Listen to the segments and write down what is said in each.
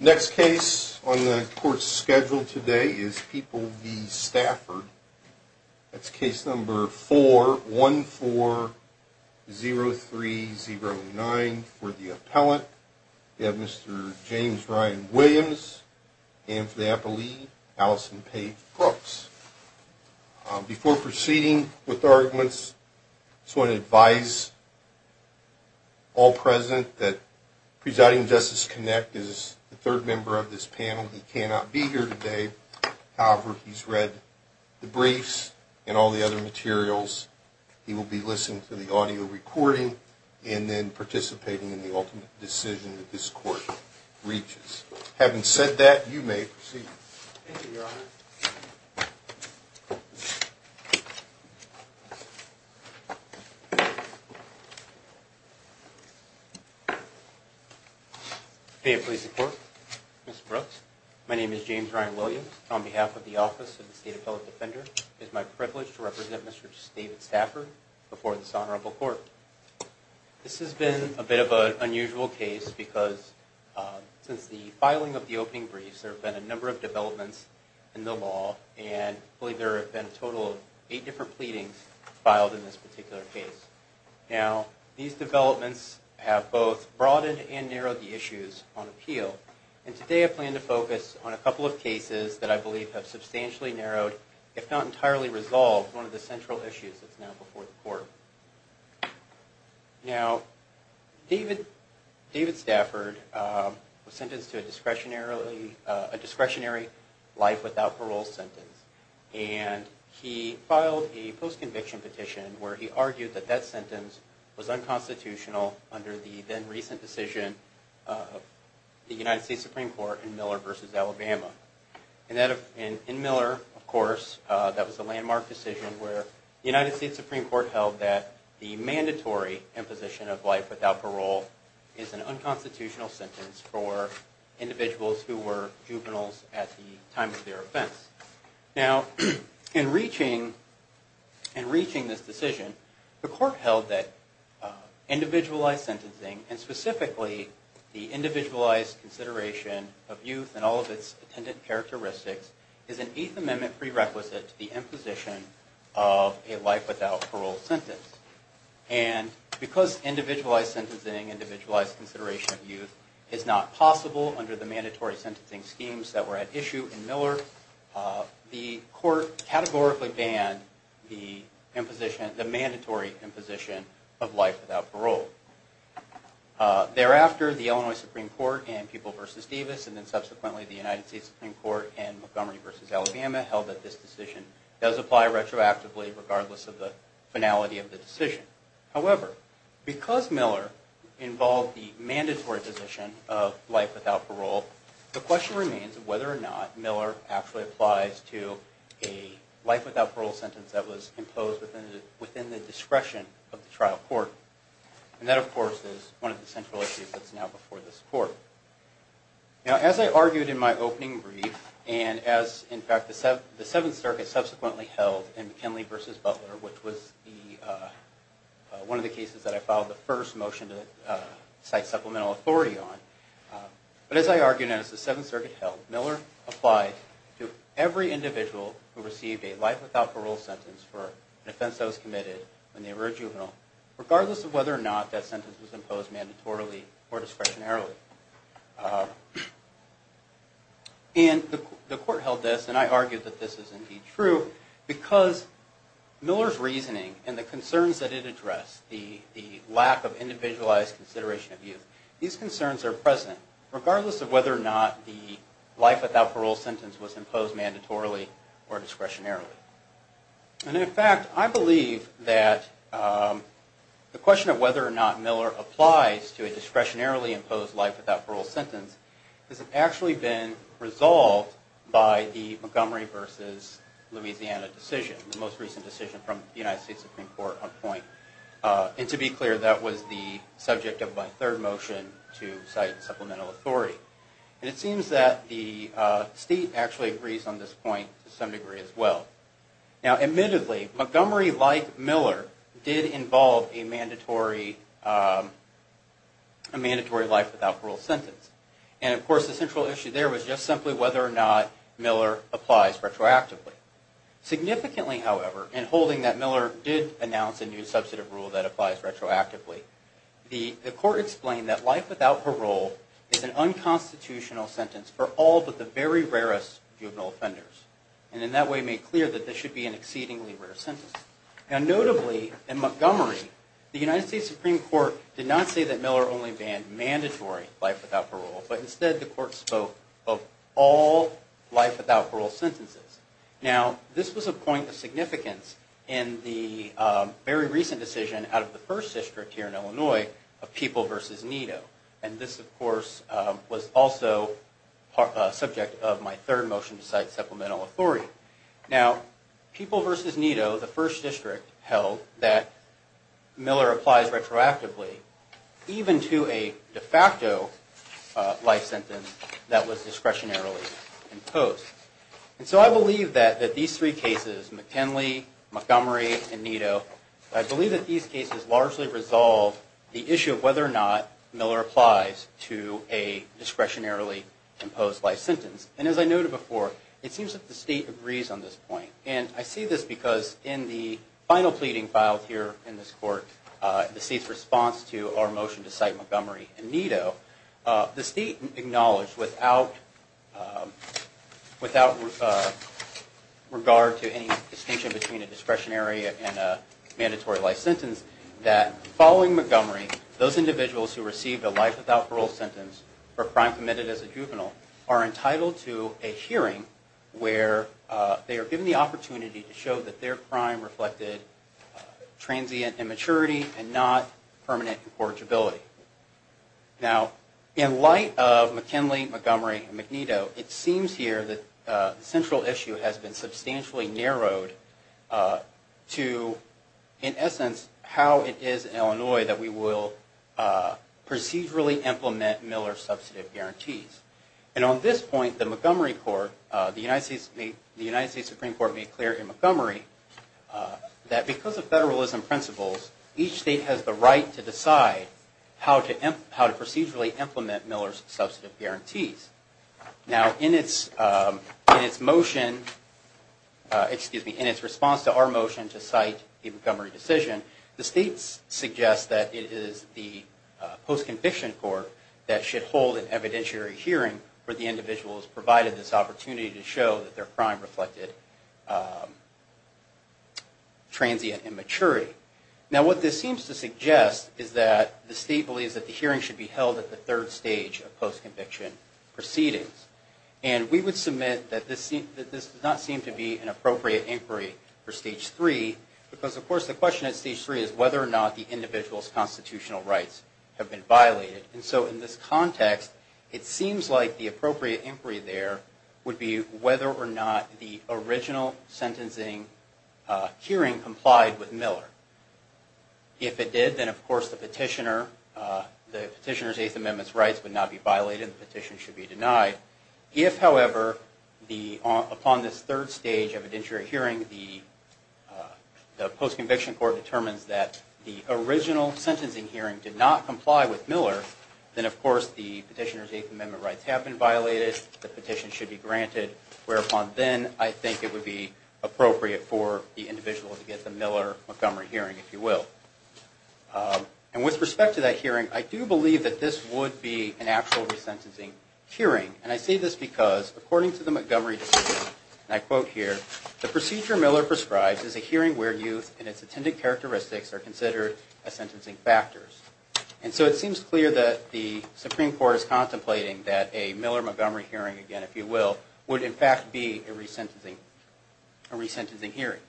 Next case on the court's schedule today is People v. Stafford. That's case number 4140309 for the appellant. We have Mr. James Ryan Williams and for the appealee, Allison Paige Brooks. Before proceeding with arguments, I just want to advise all present that Presiding Justice Kinect is the third member of this panel. He cannot be here today. However, he's read the briefs and all the other materials. He will be listening to the audio recording and then participating in the ultimate decision that this court reaches. Having said that, you may proceed. James Ryan Williams Thank you, Your Honor. May it please the court. Mr. Brooks, my name is James Ryan Williams. On behalf of the Office of the State Appellate Defender, it is my privilege to represent Mr. David Stafford before this honorable court. This has been a bit of an unusual case because since the filing of the opening briefs, there have been a number of developments in the law and I believe there have been a total of eight different pleadings filed in this particular case. Now, these developments have both broadened and narrowed the issues on appeal and today I plan to focus on a couple of cases that I believe have substantially narrowed, if not entirely resolved, one of the central issues that's now before the court. Now, David Stafford was sentenced to a discretionary life without parole sentence and he filed a post-conviction petition where he argued that that sentence was unconstitutional under the then-recent decision of the United States Supreme Court in Miller v. Alabama. In Miller, of course, that was a landmark decision where the United States Supreme Court held that the mandatory imposition of life without parole is an unconstitutional sentence for individuals who were juveniles at the time of their offense. Now, in reaching this decision, the court held that individualized sentencing and specifically the individualized consideration of youth and all of its attendant characteristics is an Eighth Amendment prerequisite to the imposition of a life without parole sentence. And because individualized sentencing and individualized consideration of youth is not possible under the mandatory sentencing schemes that were at issue in Miller, the court categorically banned the mandatory imposition of life without parole. Thereafter, the Illinois Supreme Court in Pupil v. Davis and then subsequently the United States Supreme Court in Montgomery v. Alabama held that this decision does apply retroactively regardless of the finality of the decision. However, because Miller involved the mandatory imposition of life without parole, the question remains whether or not Miller actually applies to a life without parole sentence that was imposed within the discretion of the trial court. And that, of course, is one of the central issues that's now before this court. Now, as I argued in my opening brief and as, in fact, the Seventh Circuit subsequently held in McKinley v. Butler, which was one of the cases that I filed the first motion to cite supplemental authority on, but as I argued and as the Seventh Circuit held, Miller applied to every individual who received a life without parole sentence for an offense that was committed when they were a juvenile regardless of whether or not that sentence was imposed mandatorily or discretionarily. And the court held this, and I argued that this is indeed true, because Miller's reasoning and the concerns that it addressed, the lack of individualized consideration of youth, these concerns are present regardless of whether or not the life without parole sentence was imposed mandatorily or discretionarily. And, in fact, I believe that the question of whether or not Miller applies to a discretionarily imposed life without parole sentence has actually been resolved by the Montgomery v. Louisiana decision, the most recent decision from the United States Supreme Court on point. And to be clear, that was the subject of my third motion to cite supplemental authority. And it seems that the state actually agrees on this point to some degree as well. Now, admittedly, Montgomery, like Miller, did involve a mandatory life without parole sentence. And, of course, the central issue there was just simply whether or not Miller applies retroactively. Significantly, however, in holding that Miller did announce a new substantive rule that applies retroactively, the court explained that life without parole is an unconstitutional sentence for all but the very rarest juvenile offenders, and in that way made clear that this should be an exceedingly rare sentence. Now, notably, in Montgomery, the United States Supreme Court did not say that Miller only banned mandatory life without parole, but instead the court spoke of all life without parole sentences. Now, this was a point of significance in the very recent decision out of the first district here in Illinois of People v. Nito. And this, of course, was also a subject of my third motion to cite supplemental authority. Now, People v. Nito, the first district, held that Miller applies retroactively even to a de facto life sentence that was discretionarily imposed. And so I believe that these three cases, McKinley, Montgomery, and Nito, I believe that these cases largely resolve the issue of whether or not Miller applies to a discretionarily imposed life sentence. And as I noted before, it seems that the state agrees on this point. And I see this because in the final pleading filed here in this court, the state's response to our motion to cite Montgomery and Nito, the state acknowledged, without regard to any distinction between a discretionary and a mandatory life sentence, that following Montgomery, those individuals who received a life without parole sentence for a crime committed as a juvenile are entitled to a hearing where they are given the opportunity to show that their crime reflected transient immaturity and not permanent incorrigibility. Now, in light of McKinley, Montgomery, and Nito, it seems here that the central issue has been substantially narrowed to, in essence, how it is in Illinois that we will procedurally implement Miller substantive guarantees. And on this point, the Montgomery court, the United States Supreme Court made clear in Montgomery that because of federalism principles, each state has the right to decide how to procedurally implement Miller's substantive guarantees. Now, in its motion, excuse me, in its response to our motion to cite the Montgomery decision, the state suggests that it is the post-conviction court that should hold an evidentiary hearing where the individual is provided this opportunity to show that their crime reflected transient immaturity. Now, what this seems to suggest is that the state believes that the hearing should be held at the third stage of post-conviction proceedings. And we would submit that this does not seem to be an appropriate inquiry for stage three because, of course, the question at stage three is whether or not the individual's constitutional rights have been violated. And so, in this context, it seems like the appropriate inquiry there would be whether or not the original sentencing hearing complied with Miller. If it did, then, of course, the petitioner's Eighth Amendment rights would not be violated, the petition should be denied. If, however, upon this third stage of evidentiary hearing, the post-conviction court determines that the original sentencing hearing did not comply with Miller, then, of course, the petitioner's Eighth Amendment rights have been violated, the petition should be granted, whereupon then, I think it would be appropriate for the individual to get the Miller-Montgomery hearing, if you will. And with respect to that hearing, I do believe that this would be an actual resentencing hearing. And I say this because, according to the Montgomery decision, and I quote here, the procedure Miller prescribes is a hearing where youth and its attendant characteristics are considered as sentencing factors. And so it seems clear that the Supreme Court is contemplating that a Miller-Montgomery hearing, again, if you will, would in fact be a resentencing hearing.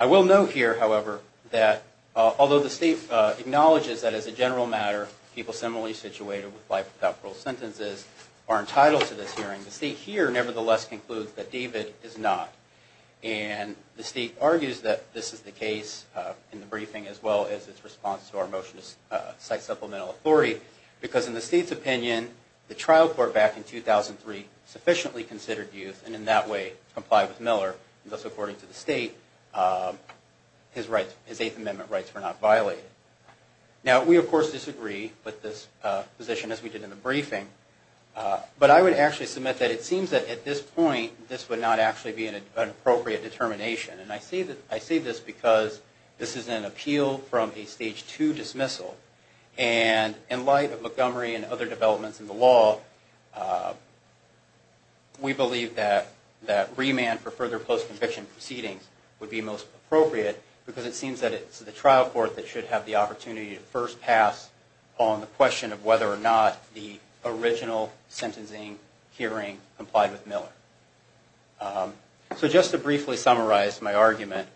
I will note here, however, that although the state acknowledges that as a general matter, people similarly situated with life without parole sentences are entitled to this hearing, the state here nevertheless concludes that David is not. And the state argues that this is the case in the briefing, as well as its response to our motion to cite supplemental authority, because in the state's opinion, the trial court back in 2003 sufficiently considered youth, and in that way, complied with Miller, and thus, according to the state, his Eighth Amendment rights were not violated. Now, we of course disagree with this position, as we did in the briefing. But I would actually submit that it seems that at this point, this would not actually be an appropriate determination. And I say this because this is an appeal from a Stage 2 dismissal. And in light of Montgomery and other developments in the law, we believe that remand for further post-conviction proceedings would be most appropriate, because it seems that it's the trial court that should have the opportunity to first pass on the question of whether or not the original sentencing hearing complied with Miller. So just to briefly summarize my argument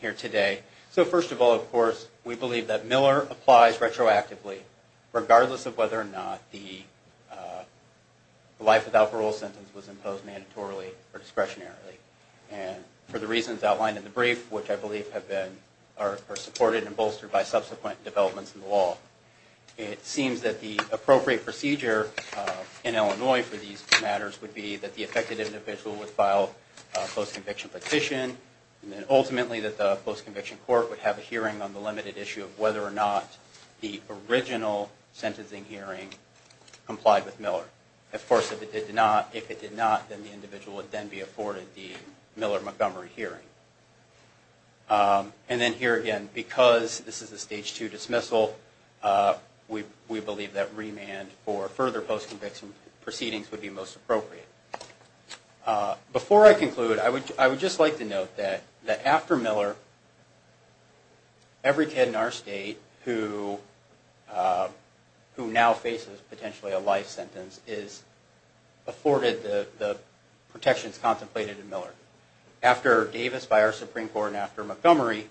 here today, so first of all, of course, we believe that Miller applies retroactively, regardless of whether or not the life without parole sentence was imposed mandatorily or discretionarily, and for the reasons outlined in the brief, which I believe are supported and bolstered by subsequent developments in the law. It seems that the appropriate procedure in Illinois for these matters would be that the affected individual would file a post-conviction petition, and then ultimately that the post-conviction court would have a hearing on the limited issue of whether or not the original sentencing hearing complied with Miller. Of course, if it did not, then the individual would then be afforded the Miller-Montgomery hearing. And then here again, because this is a Stage 2 dismissal, we believe that remand for further post-conviction proceedings would be most appropriate. Before I conclude, I would just like to note that after Miller, every kid in our state who now faces potentially a life sentence is afforded the protections contemplated in Miller. After Davis, by our Supreme Court, and after Montgomery,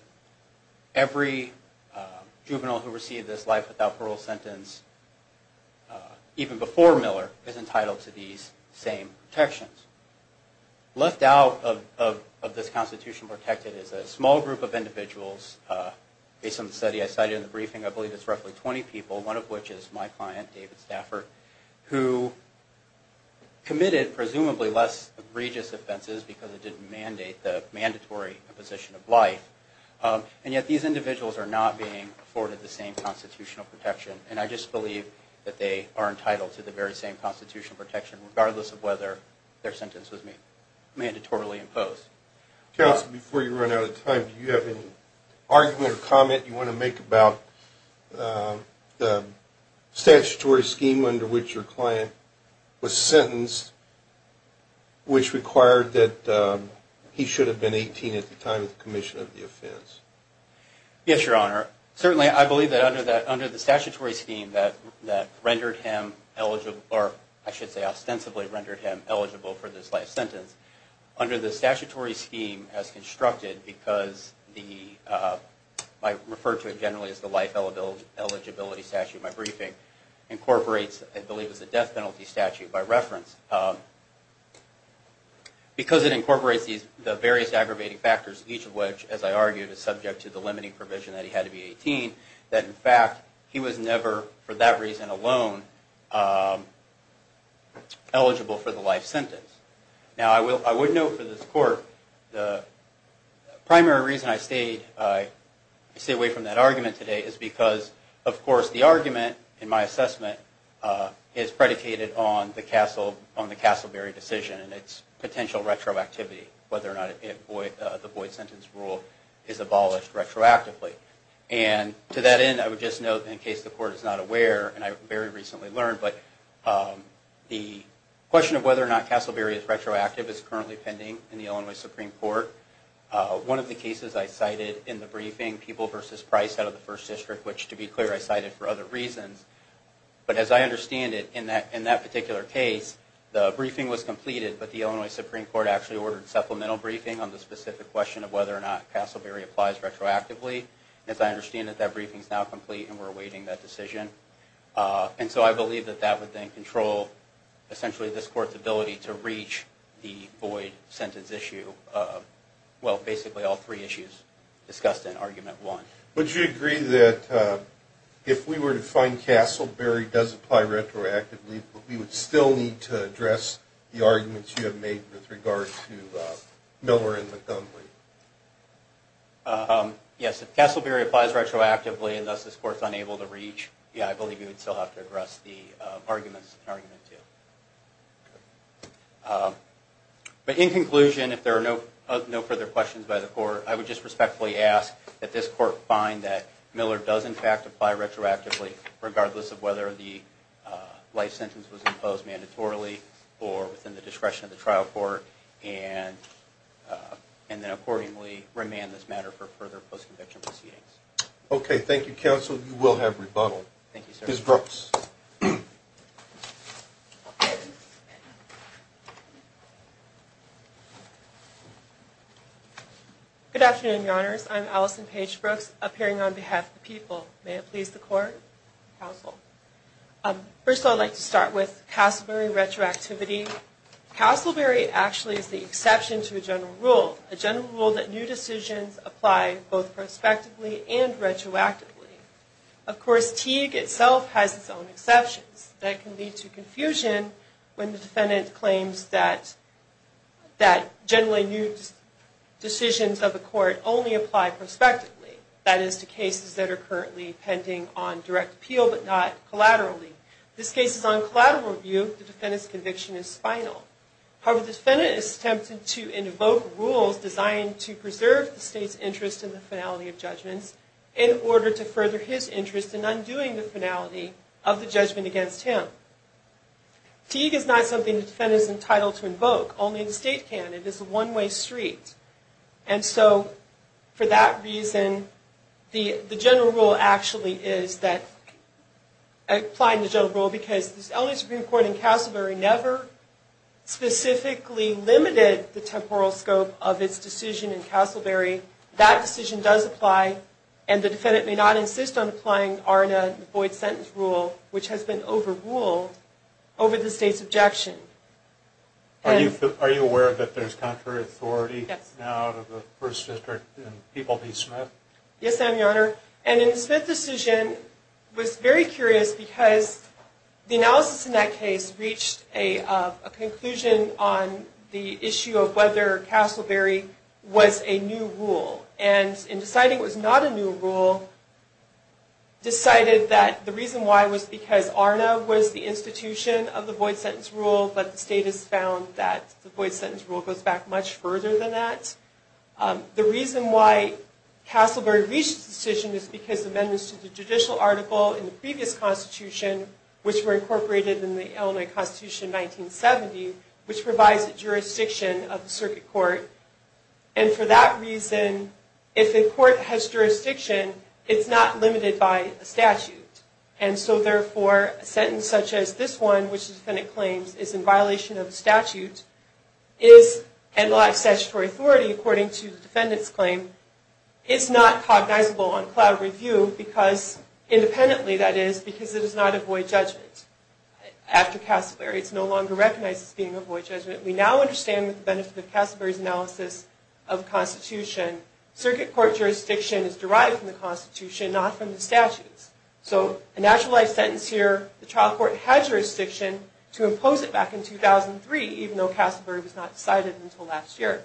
every juvenile who received this life without parole sentence, even before Miller, is entitled to these same protections. Left out of this Constitution protected is a small group of individuals, based on the study I cited in the briefing, I believe it's roughly 20 people, one of which is my client, David Stafford, who committed presumably less egregious offenses because it didn't mandate the mandatory position of life. And yet these individuals are not being afforded the same Constitutional protection, and I just believe that they are entitled to the very same Constitutional protection, regardless of whether their sentence was mandatorily imposed. Counsel, before you run out of time, do you have any argument or comment you want to make about the statutory scheme under which your client was sentenced, which required that he should have been 18 at the time of the commission of the offense? Yes, Your Honor. Certainly, I believe that under the statutory scheme that rendered him eligible, or I should say ostensibly rendered him eligible for this life sentence, under the statutory scheme as constructed because the, I refer to it generally as the life eligibility statute in my briefing, incorporates, I believe it's the death penalty statute by reference. Because it incorporates the various aggravating factors, each of which, as I argued, is subject to the limiting provision that he had to be 18, that in fact, he was never, for that reason alone, eligible for the life sentence. Now, I would note for this court, the primary reason I stayed away from that argument today is because, of course, the argument in my assessment is predicated on the Castleberry decision and its potential retroactivity, whether or not the Boyd sentence rule is abolished retroactively. And to that end, I would just note, in case the court is not aware, and I very recently learned, but the question of whether or not Castleberry is retroactive is currently pending in the Illinois Supreme Court. One of the cases I cited in the briefing, People v. Price out of the First District, which, to be clear, I cited for other reasons, but as I understand it, in that particular case, the briefing was completed, but the Illinois Supreme Court actually ordered supplemental briefing on the specific question of whether or not Castleberry applies retroactively. And as I understand it, that briefing is now complete, and we're awaiting that decision. And so I believe that that would then control, essentially, this court's ability to reach the Boyd sentence issue of, well, basically all three issues discussed in Argument 1. Would you agree that if we were to find Castleberry does apply retroactively, we would still need to address the arguments you have made with regard to Miller and Montgomery? Yes, if Castleberry applies retroactively, and thus this court is unable to reach, yeah, I believe we would still have to address the arguments in Argument 2. But in conclusion, if there are no further questions by the court, I would just respectfully ask that this court find that Miller does, in fact, apply retroactively, regardless of whether the life sentence was imposed mandatorily or within the discretion of the trial court. And then, accordingly, remand this matter for further post-conviction proceedings. Okay, thank you, counsel. You will have rebuttal. Thank you, sir. Ms. Brooks. Good afternoon, Your Honors. I'm Allison Paige Brooks, appearing on behalf of the people. May it please the court, counsel. First of all, I'd like to start with Castleberry retroactivity. Castleberry actually is the exception to a general rule, a general rule that new decisions apply both prospectively and retroactively. Of course, Teague itself has its own exceptions that can lead to confusion when the defendant claims that generally new decisions of the court only apply prospectively. That is, to cases that are currently pending on direct appeal but not collaterally. This case is on collateral review. The defendant's conviction is final. However, the defendant is tempted to invoke rules designed to preserve the state's interest in the finality of judgments in order to further his interest in undoing the finality of the judgment against him. Teague is not something the defendant is entitled to invoke. Only the state can. It is a one-way street. And so, for that reason, the general rule actually is that, applying the general rule, because the elderly Supreme Court in Castleberry never specifically limited the temporal scope of its decision in Castleberry. That decision does apply, and the defendant may not insist on applying Arna and Boyd's sentence rule, which has been overruled, over the state's objection. Are you aware that there's contrary authority now in the First District in People v. Smith? Yes, I am, Your Honor. And in the Smith decision, I was very curious because the analysis in that case reached a conclusion on the issue of whether Castleberry was a new rule. And in deciding it was not a new rule, decided that the reason why was because Arna was the institution of the Boyd sentence rule, but the state has found that the Boyd sentence rule goes back much further than that. The reason why Castleberry reached this decision is because the amendments to the judicial article in the previous Constitution, which were incorporated in the Illinois Constitution in 1970, which provides the jurisdiction of the circuit court. And for that reason, if a court has jurisdiction, it's not limited by a statute. And so therefore, a sentence such as this one, which the defendant claims is in violation of the statute, and lacks statutory authority according to the defendant's claim, is not cognizable on cloud review, independently that is, because it is not a Boyd judgment after Castleberry. It's no longer recognized as being a Boyd judgment. We now understand the benefit of Castleberry's analysis of the Constitution. Circuit court jurisdiction is derived from the Constitution, not from the statutes. So a naturalized sentence here, the trial court had jurisdiction to impose it back in 2003, even though Castleberry was not decided until last year.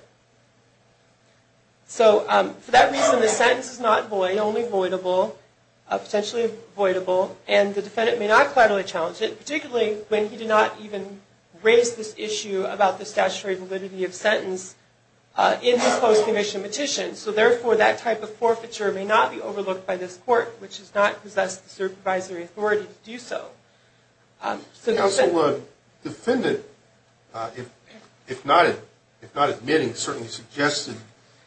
So for that reason, the sentence is not Boyd, only voidable, potentially voidable. And the defendant may not collaterally challenge it, particularly when he did not even raise this issue about the statutory validity of sentence in his post-commission petition. So therefore, that type of forfeiture may not be overlooked by this court, which does not possess the supervisory authority to do so. So the defendant, if not admitting, certainly suggested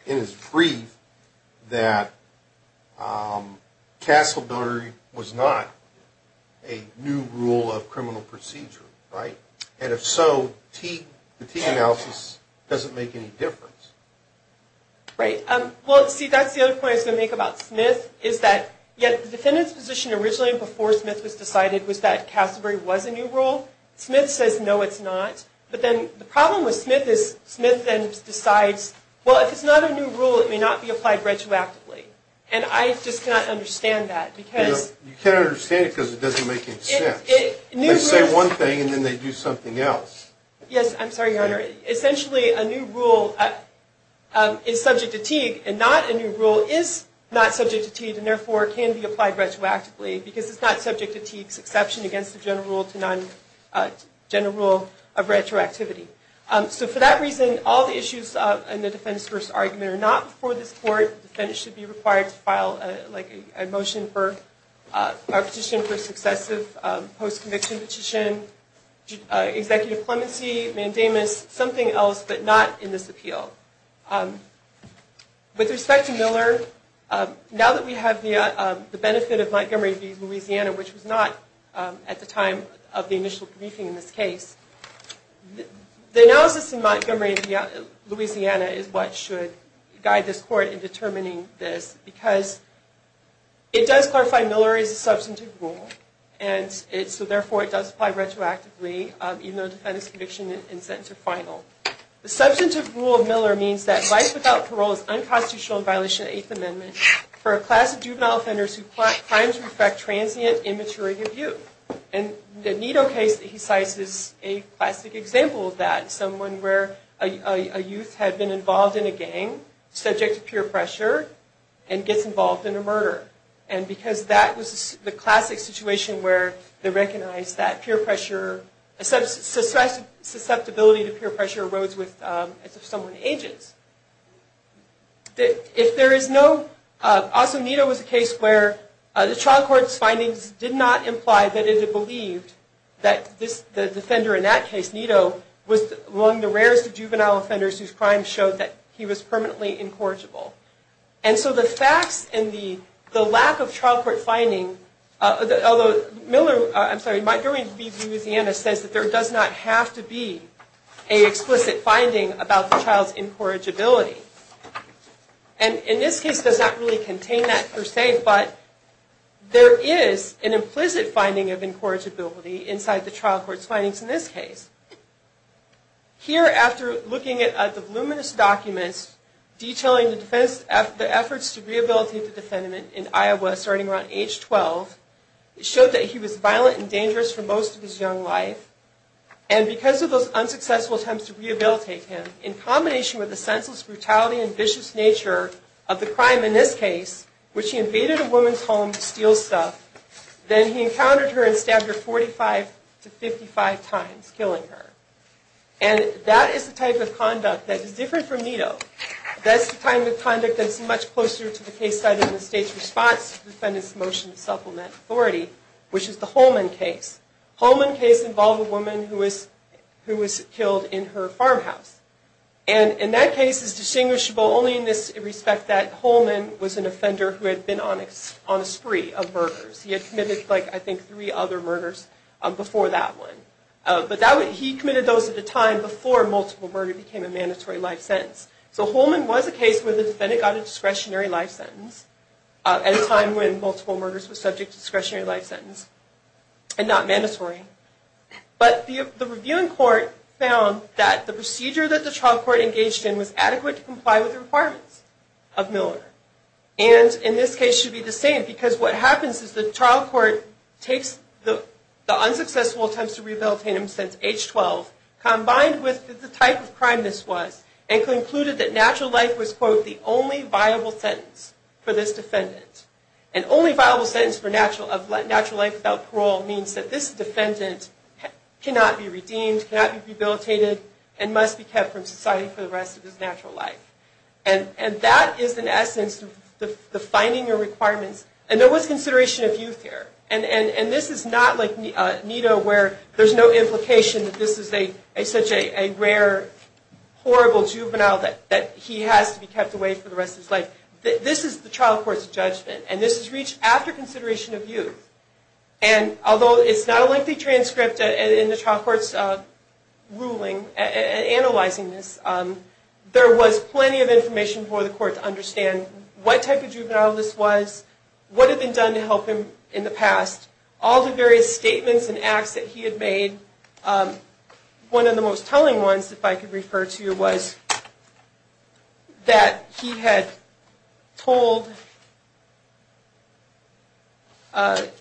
in his brief that Castleberry was not a new rule of criminal procedure, right? And if so, the T analysis doesn't make any difference. Right. Well, see, that's the other point I was going to make about Smith, is that the defendant's position originally, before Smith was decided, was that Castleberry was a new rule. Smith says, no, it's not. But then the problem with Smith is Smith then decides, well, if it's not a new rule, it may not be applied retroactively. And I just cannot understand that. You can't understand it because it doesn't make any sense. They say one thing, and then they do something else. Yes, I'm sorry, Your Honor. Essentially, a new rule is subject to Teague, and not a new rule is not subject to Teague, and therefore can be applied retroactively, because it's not subject to Teague's exception against the general rule of retroactivity. So for that reason, all the issues in the defense-versus-argument are not before this court. The defendant should be required to file a motion for a petition for successive post-conviction petition, executive clemency, mandamus, something else, but not in this appeal. With respect to Miller, now that we have the benefit of Montgomery v. Louisiana, which was not at the time of the initial briefing in this case, the analysis in Montgomery v. Louisiana is what should guide this court in determining this, because it does clarify Miller is a substantive rule, and so therefore it does apply retroactively, even though the defendant's conviction and sentence are final. The substantive rule of Miller means that life without parole is unconstitutional in violation of the Eighth Amendment for a class of juvenile offenders who claim to reflect transient, immaturity of view. And the Nito case that he cites is a classic example of that, someone where a youth had been involved in a gang, subject to peer pressure, and gets involved in a murder. And because that was the classic situation where they recognized that susceptibility to peer pressure erodes as someone ages. Also, Nito was a case where the trial court's findings did not imply that it had believed that the defender in that case, Nito, was among the rarest of juvenile offenders whose crimes showed that he was permanently incorrigible. And so the facts and the lack of trial court finding, although Miller, I'm sorry, is that there does not have to be an explicit finding about the child's incorrigibility. And in this case, it does not really contain that per se, but there is an implicit finding of incorrigibility inside the trial court's findings in this case. Here, after looking at the voluminous documents detailing the efforts to rehabilitate the defendant in Iowa starting around age 12, it showed that he was violent and dangerous for most of his young life, and because of those unsuccessful attempts to rehabilitate him, in combination with the senseless brutality and vicious nature of the crime in this case, which he invaded a woman's home to steal stuff, then he encountered her and stabbed her 45 to 55 times, killing her. And that is the type of conduct that is different from Nito. That's the kind of conduct that's much closer to the case cited in the state's response to the defendant's motion to supplement authority, which is the Holman case. Holman case involved a woman who was killed in her farmhouse. And in that case, it's distinguishable only in this respect that Holman was an offender who had been on a spree of murders. He had committed, I think, three other murders before that one. But he committed those at a time before multiple murder became a mandatory life sentence. So Holman was a case where the defendant got a discretionary life sentence at a time when multiple murders were subject to discretionary life sentence and not mandatory. But the reviewing court found that the procedure that the trial court engaged in was adequate to comply with the requirements of Miller. And in this case, it should be the same, because what happens is the trial court takes the unsuccessful attempts to rehabilitate him since age 12, combined with the type of crime this was, and concluded that natural life was, quote, the only viable sentence for this defendant. And only viable sentence for natural life without parole means that this defendant cannot be redeemed, cannot be rehabilitated, and must be kept from society for the rest of his natural life. And that is, in essence, the finding of requirements. And there was consideration of youth here. And this is not like NITO where there's no implication that this is such a rare, horrible juvenile that he has to be kept away for the rest of his life. This is the trial court's judgment. And this is reached after consideration of youth. And although it's not a lengthy transcript in the trial court's ruling analyzing this, there was plenty of information for the court to understand what type of juvenile this was, what had been done to help him in the past, all the various statements and acts that he had made. One of the most telling ones, if I could refer to, was that he had told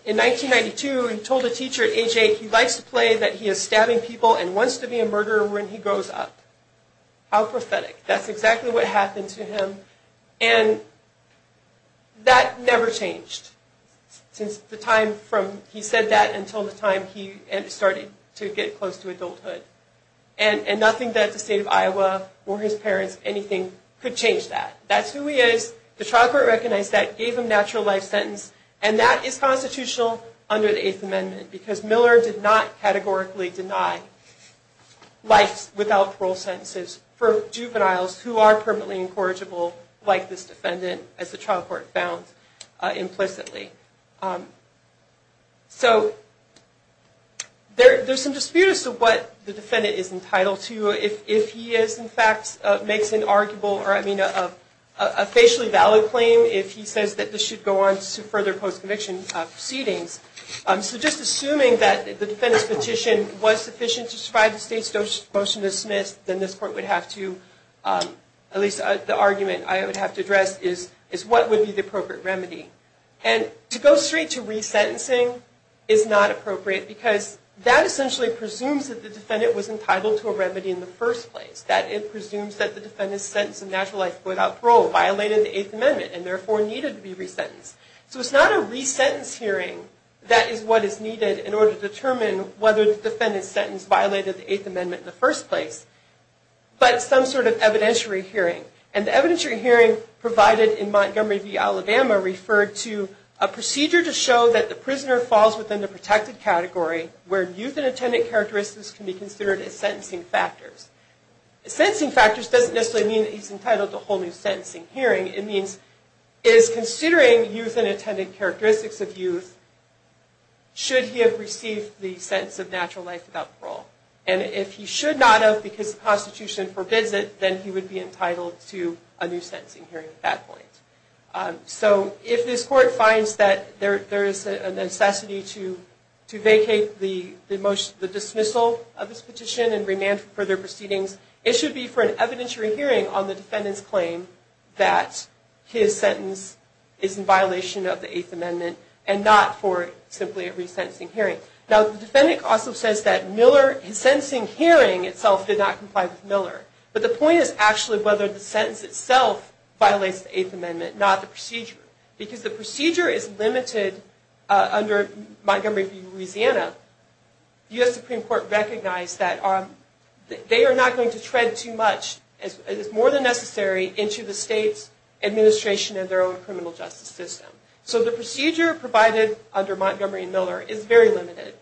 in 1992, he told a teacher at age 8, he likes to play that he is stabbing people and wants to be a murderer when he grows up. How prophetic. That's exactly what happened to him. And that never changed since the time from he said that until the time he started to get close to adulthood. And nothing that the state of Iowa or his parents, anything, could change that. That's who he is. The trial court recognized that, gave him a natural life sentence, and that is constitutional under the Eighth Amendment, because Miller did not categorically deny life without parole sentences for juveniles who are permanently incorrigible, like this defendant, as the trial court found implicitly. So there's some disputes as to what the defendant is entitled to. If he is, in fact, makes an arguably, I mean, a facially valid claim, if he says that this should go on to further post-conviction proceedings. So just assuming that the defendant's petition was sufficient to survive the state's motion to dismiss, then this court would have to, at least the argument I would have to address, is what would be the appropriate remedy. And to go straight to resentencing is not appropriate, because that essentially presumes that the defendant was entitled to a remedy in the first place. That it presumes that the defendant's sentence in natural life without parole violated the Eighth Amendment and therefore needed to be resentenced. So it's not a resentence hearing that is what is needed in order to determine whether the defendant's sentence violated the Eighth Amendment in the first place, but some sort of evidentiary hearing. And the evidentiary hearing provided in Montgomery v. Alabama referred to a procedure to show that the prisoner falls within the protected category where youth and attendant characteristics can be considered as sentencing factors. Sentencing factors doesn't necessarily mean that he's entitled to a whole new sentencing hearing. It means, is considering youth and attendant characteristics of youth, should he have received the sentence of natural life without parole? And if he should not have because the prostitution forbids it, then he would be entitled to a new sentencing hearing at that point. So if this court finds that there is a necessity to vacate the dismissal of this petition and remand further proceedings, it should be for an evidentiary hearing on the defendant's claim that his sentence is in violation of the Eighth Amendment and not for simply a resentencing hearing. Now the defendant also says that his sentencing hearing itself did not comply with Miller. But the point is actually whether the sentence itself violates the Eighth Amendment, not the procedure. Because the procedure is limited under Montgomery v. Louisiana, the U.S. Supreme Court recognized that they are not going to tread too much, as is more than necessary, into the state's administration and their own criminal justice system. So the procedure provided under Montgomery v. Miller is very limited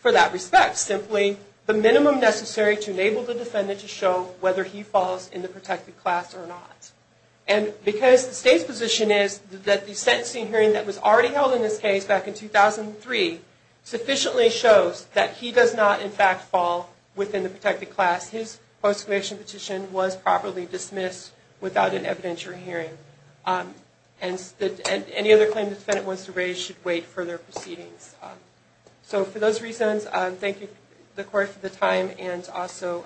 for that respect. Simply the minimum necessary to enable the defendant to show whether he falls in the protected class or not. And because the state's position is that the sentencing hearing that was already held in this case back in 2003 sufficiently shows that he does not, in fact, fall within the protected class, his post-conviction petition was properly dismissed without an evidentiary hearing. And any other claim the defendant wants to raise should wait for their proceedings. So for those reasons, I thank the Court for the time and also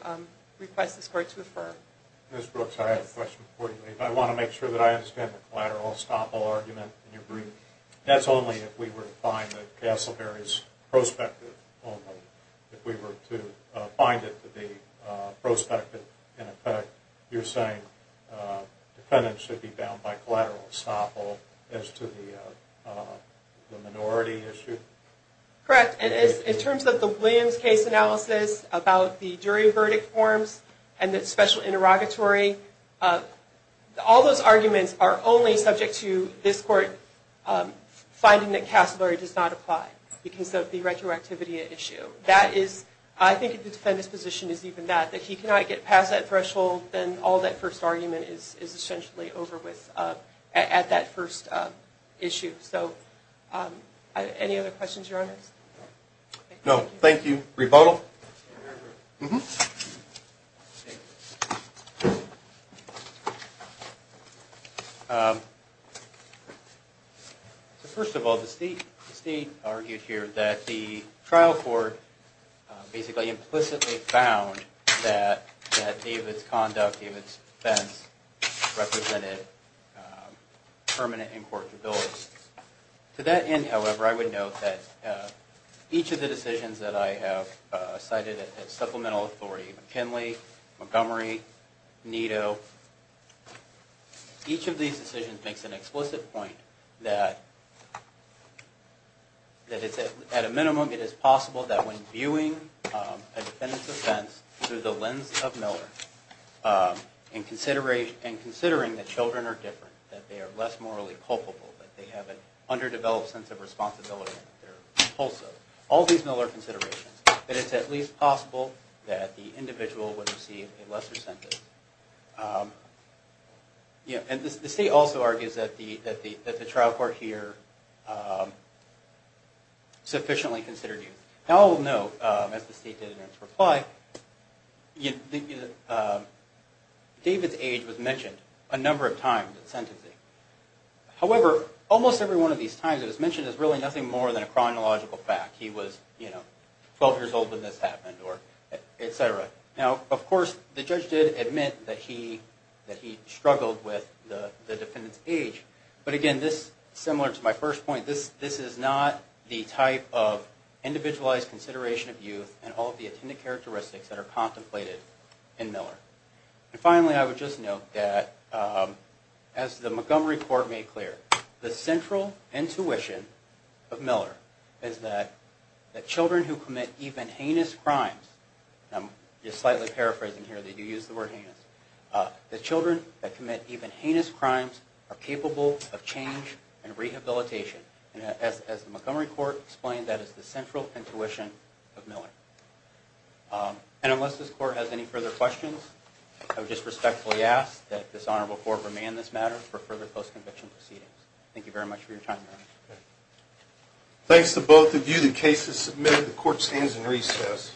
request this Court to affirm. Ms. Brooks, I have a question for you. I want to make sure that I understand the collateral estoppel argument in your brief. That's only if we were to find that Castleberry is prospective only. If we were to find it to be prospective, in effect, you're saying the defendant should be bound by collateral estoppel as to the minority issue? Correct. In terms of the Williams case analysis about the jury verdict forms and the special interrogatory, all those arguments are only subject to this Court finding that Castleberry does not apply because of the retroactivity issue. I think if the defendant's position is even that, that he cannot get past that threshold, then all that first argument is essentially over with at that first issue. So any other questions, Your Honor? No, thank you. Rebuttal? First of all, the State argued here that the trial court basically implicitly found that David's conduct, David's defense, represented permanent incortability. To that end, however, I would note that each of the decisions that I have cited at supplemental authority, McKinley, Montgomery, Nito, each of these decisions makes an explicit point that at a minimum, it is possible that when viewing a defendant's offense through the lens of Miller and considering that children are different, that they are less morally culpable, that they have an underdeveloped sense of responsibility, all these Miller considerations, that it's at least possible that the individual would receive a lesser sentence. And the State also argues that the trial court here sufficiently considered youth. Now I will note, as the State did in its reply, David's age was mentioned a number of times in sentencing. However, almost every one of these times it was mentioned as really nothing more than a chronological fact. He was 12 years old when this happened, etc. Now, of course, the judge did admit that he struggled with the defendant's age, but again, similar to my first point, this is not the type of individualized consideration of youth and all of the attendant characteristics that are contemplated in Miller. And finally, I would just note that, as the Montgomery court made clear, the central intuition of Miller is that children who commit even heinous crimes, and I'm just slightly paraphrasing here, they do use the word heinous, that children who commit even heinous crimes are capable of change and rehabilitation. And as the Montgomery court explained, that is the central intuition of Miller. And unless this court has any further questions, I would just respectfully ask that this Honorable Court remand this matter for further post-conviction proceedings. Thank you very much for your time. Thanks to both of you. The case is submitted. The court stands in recess.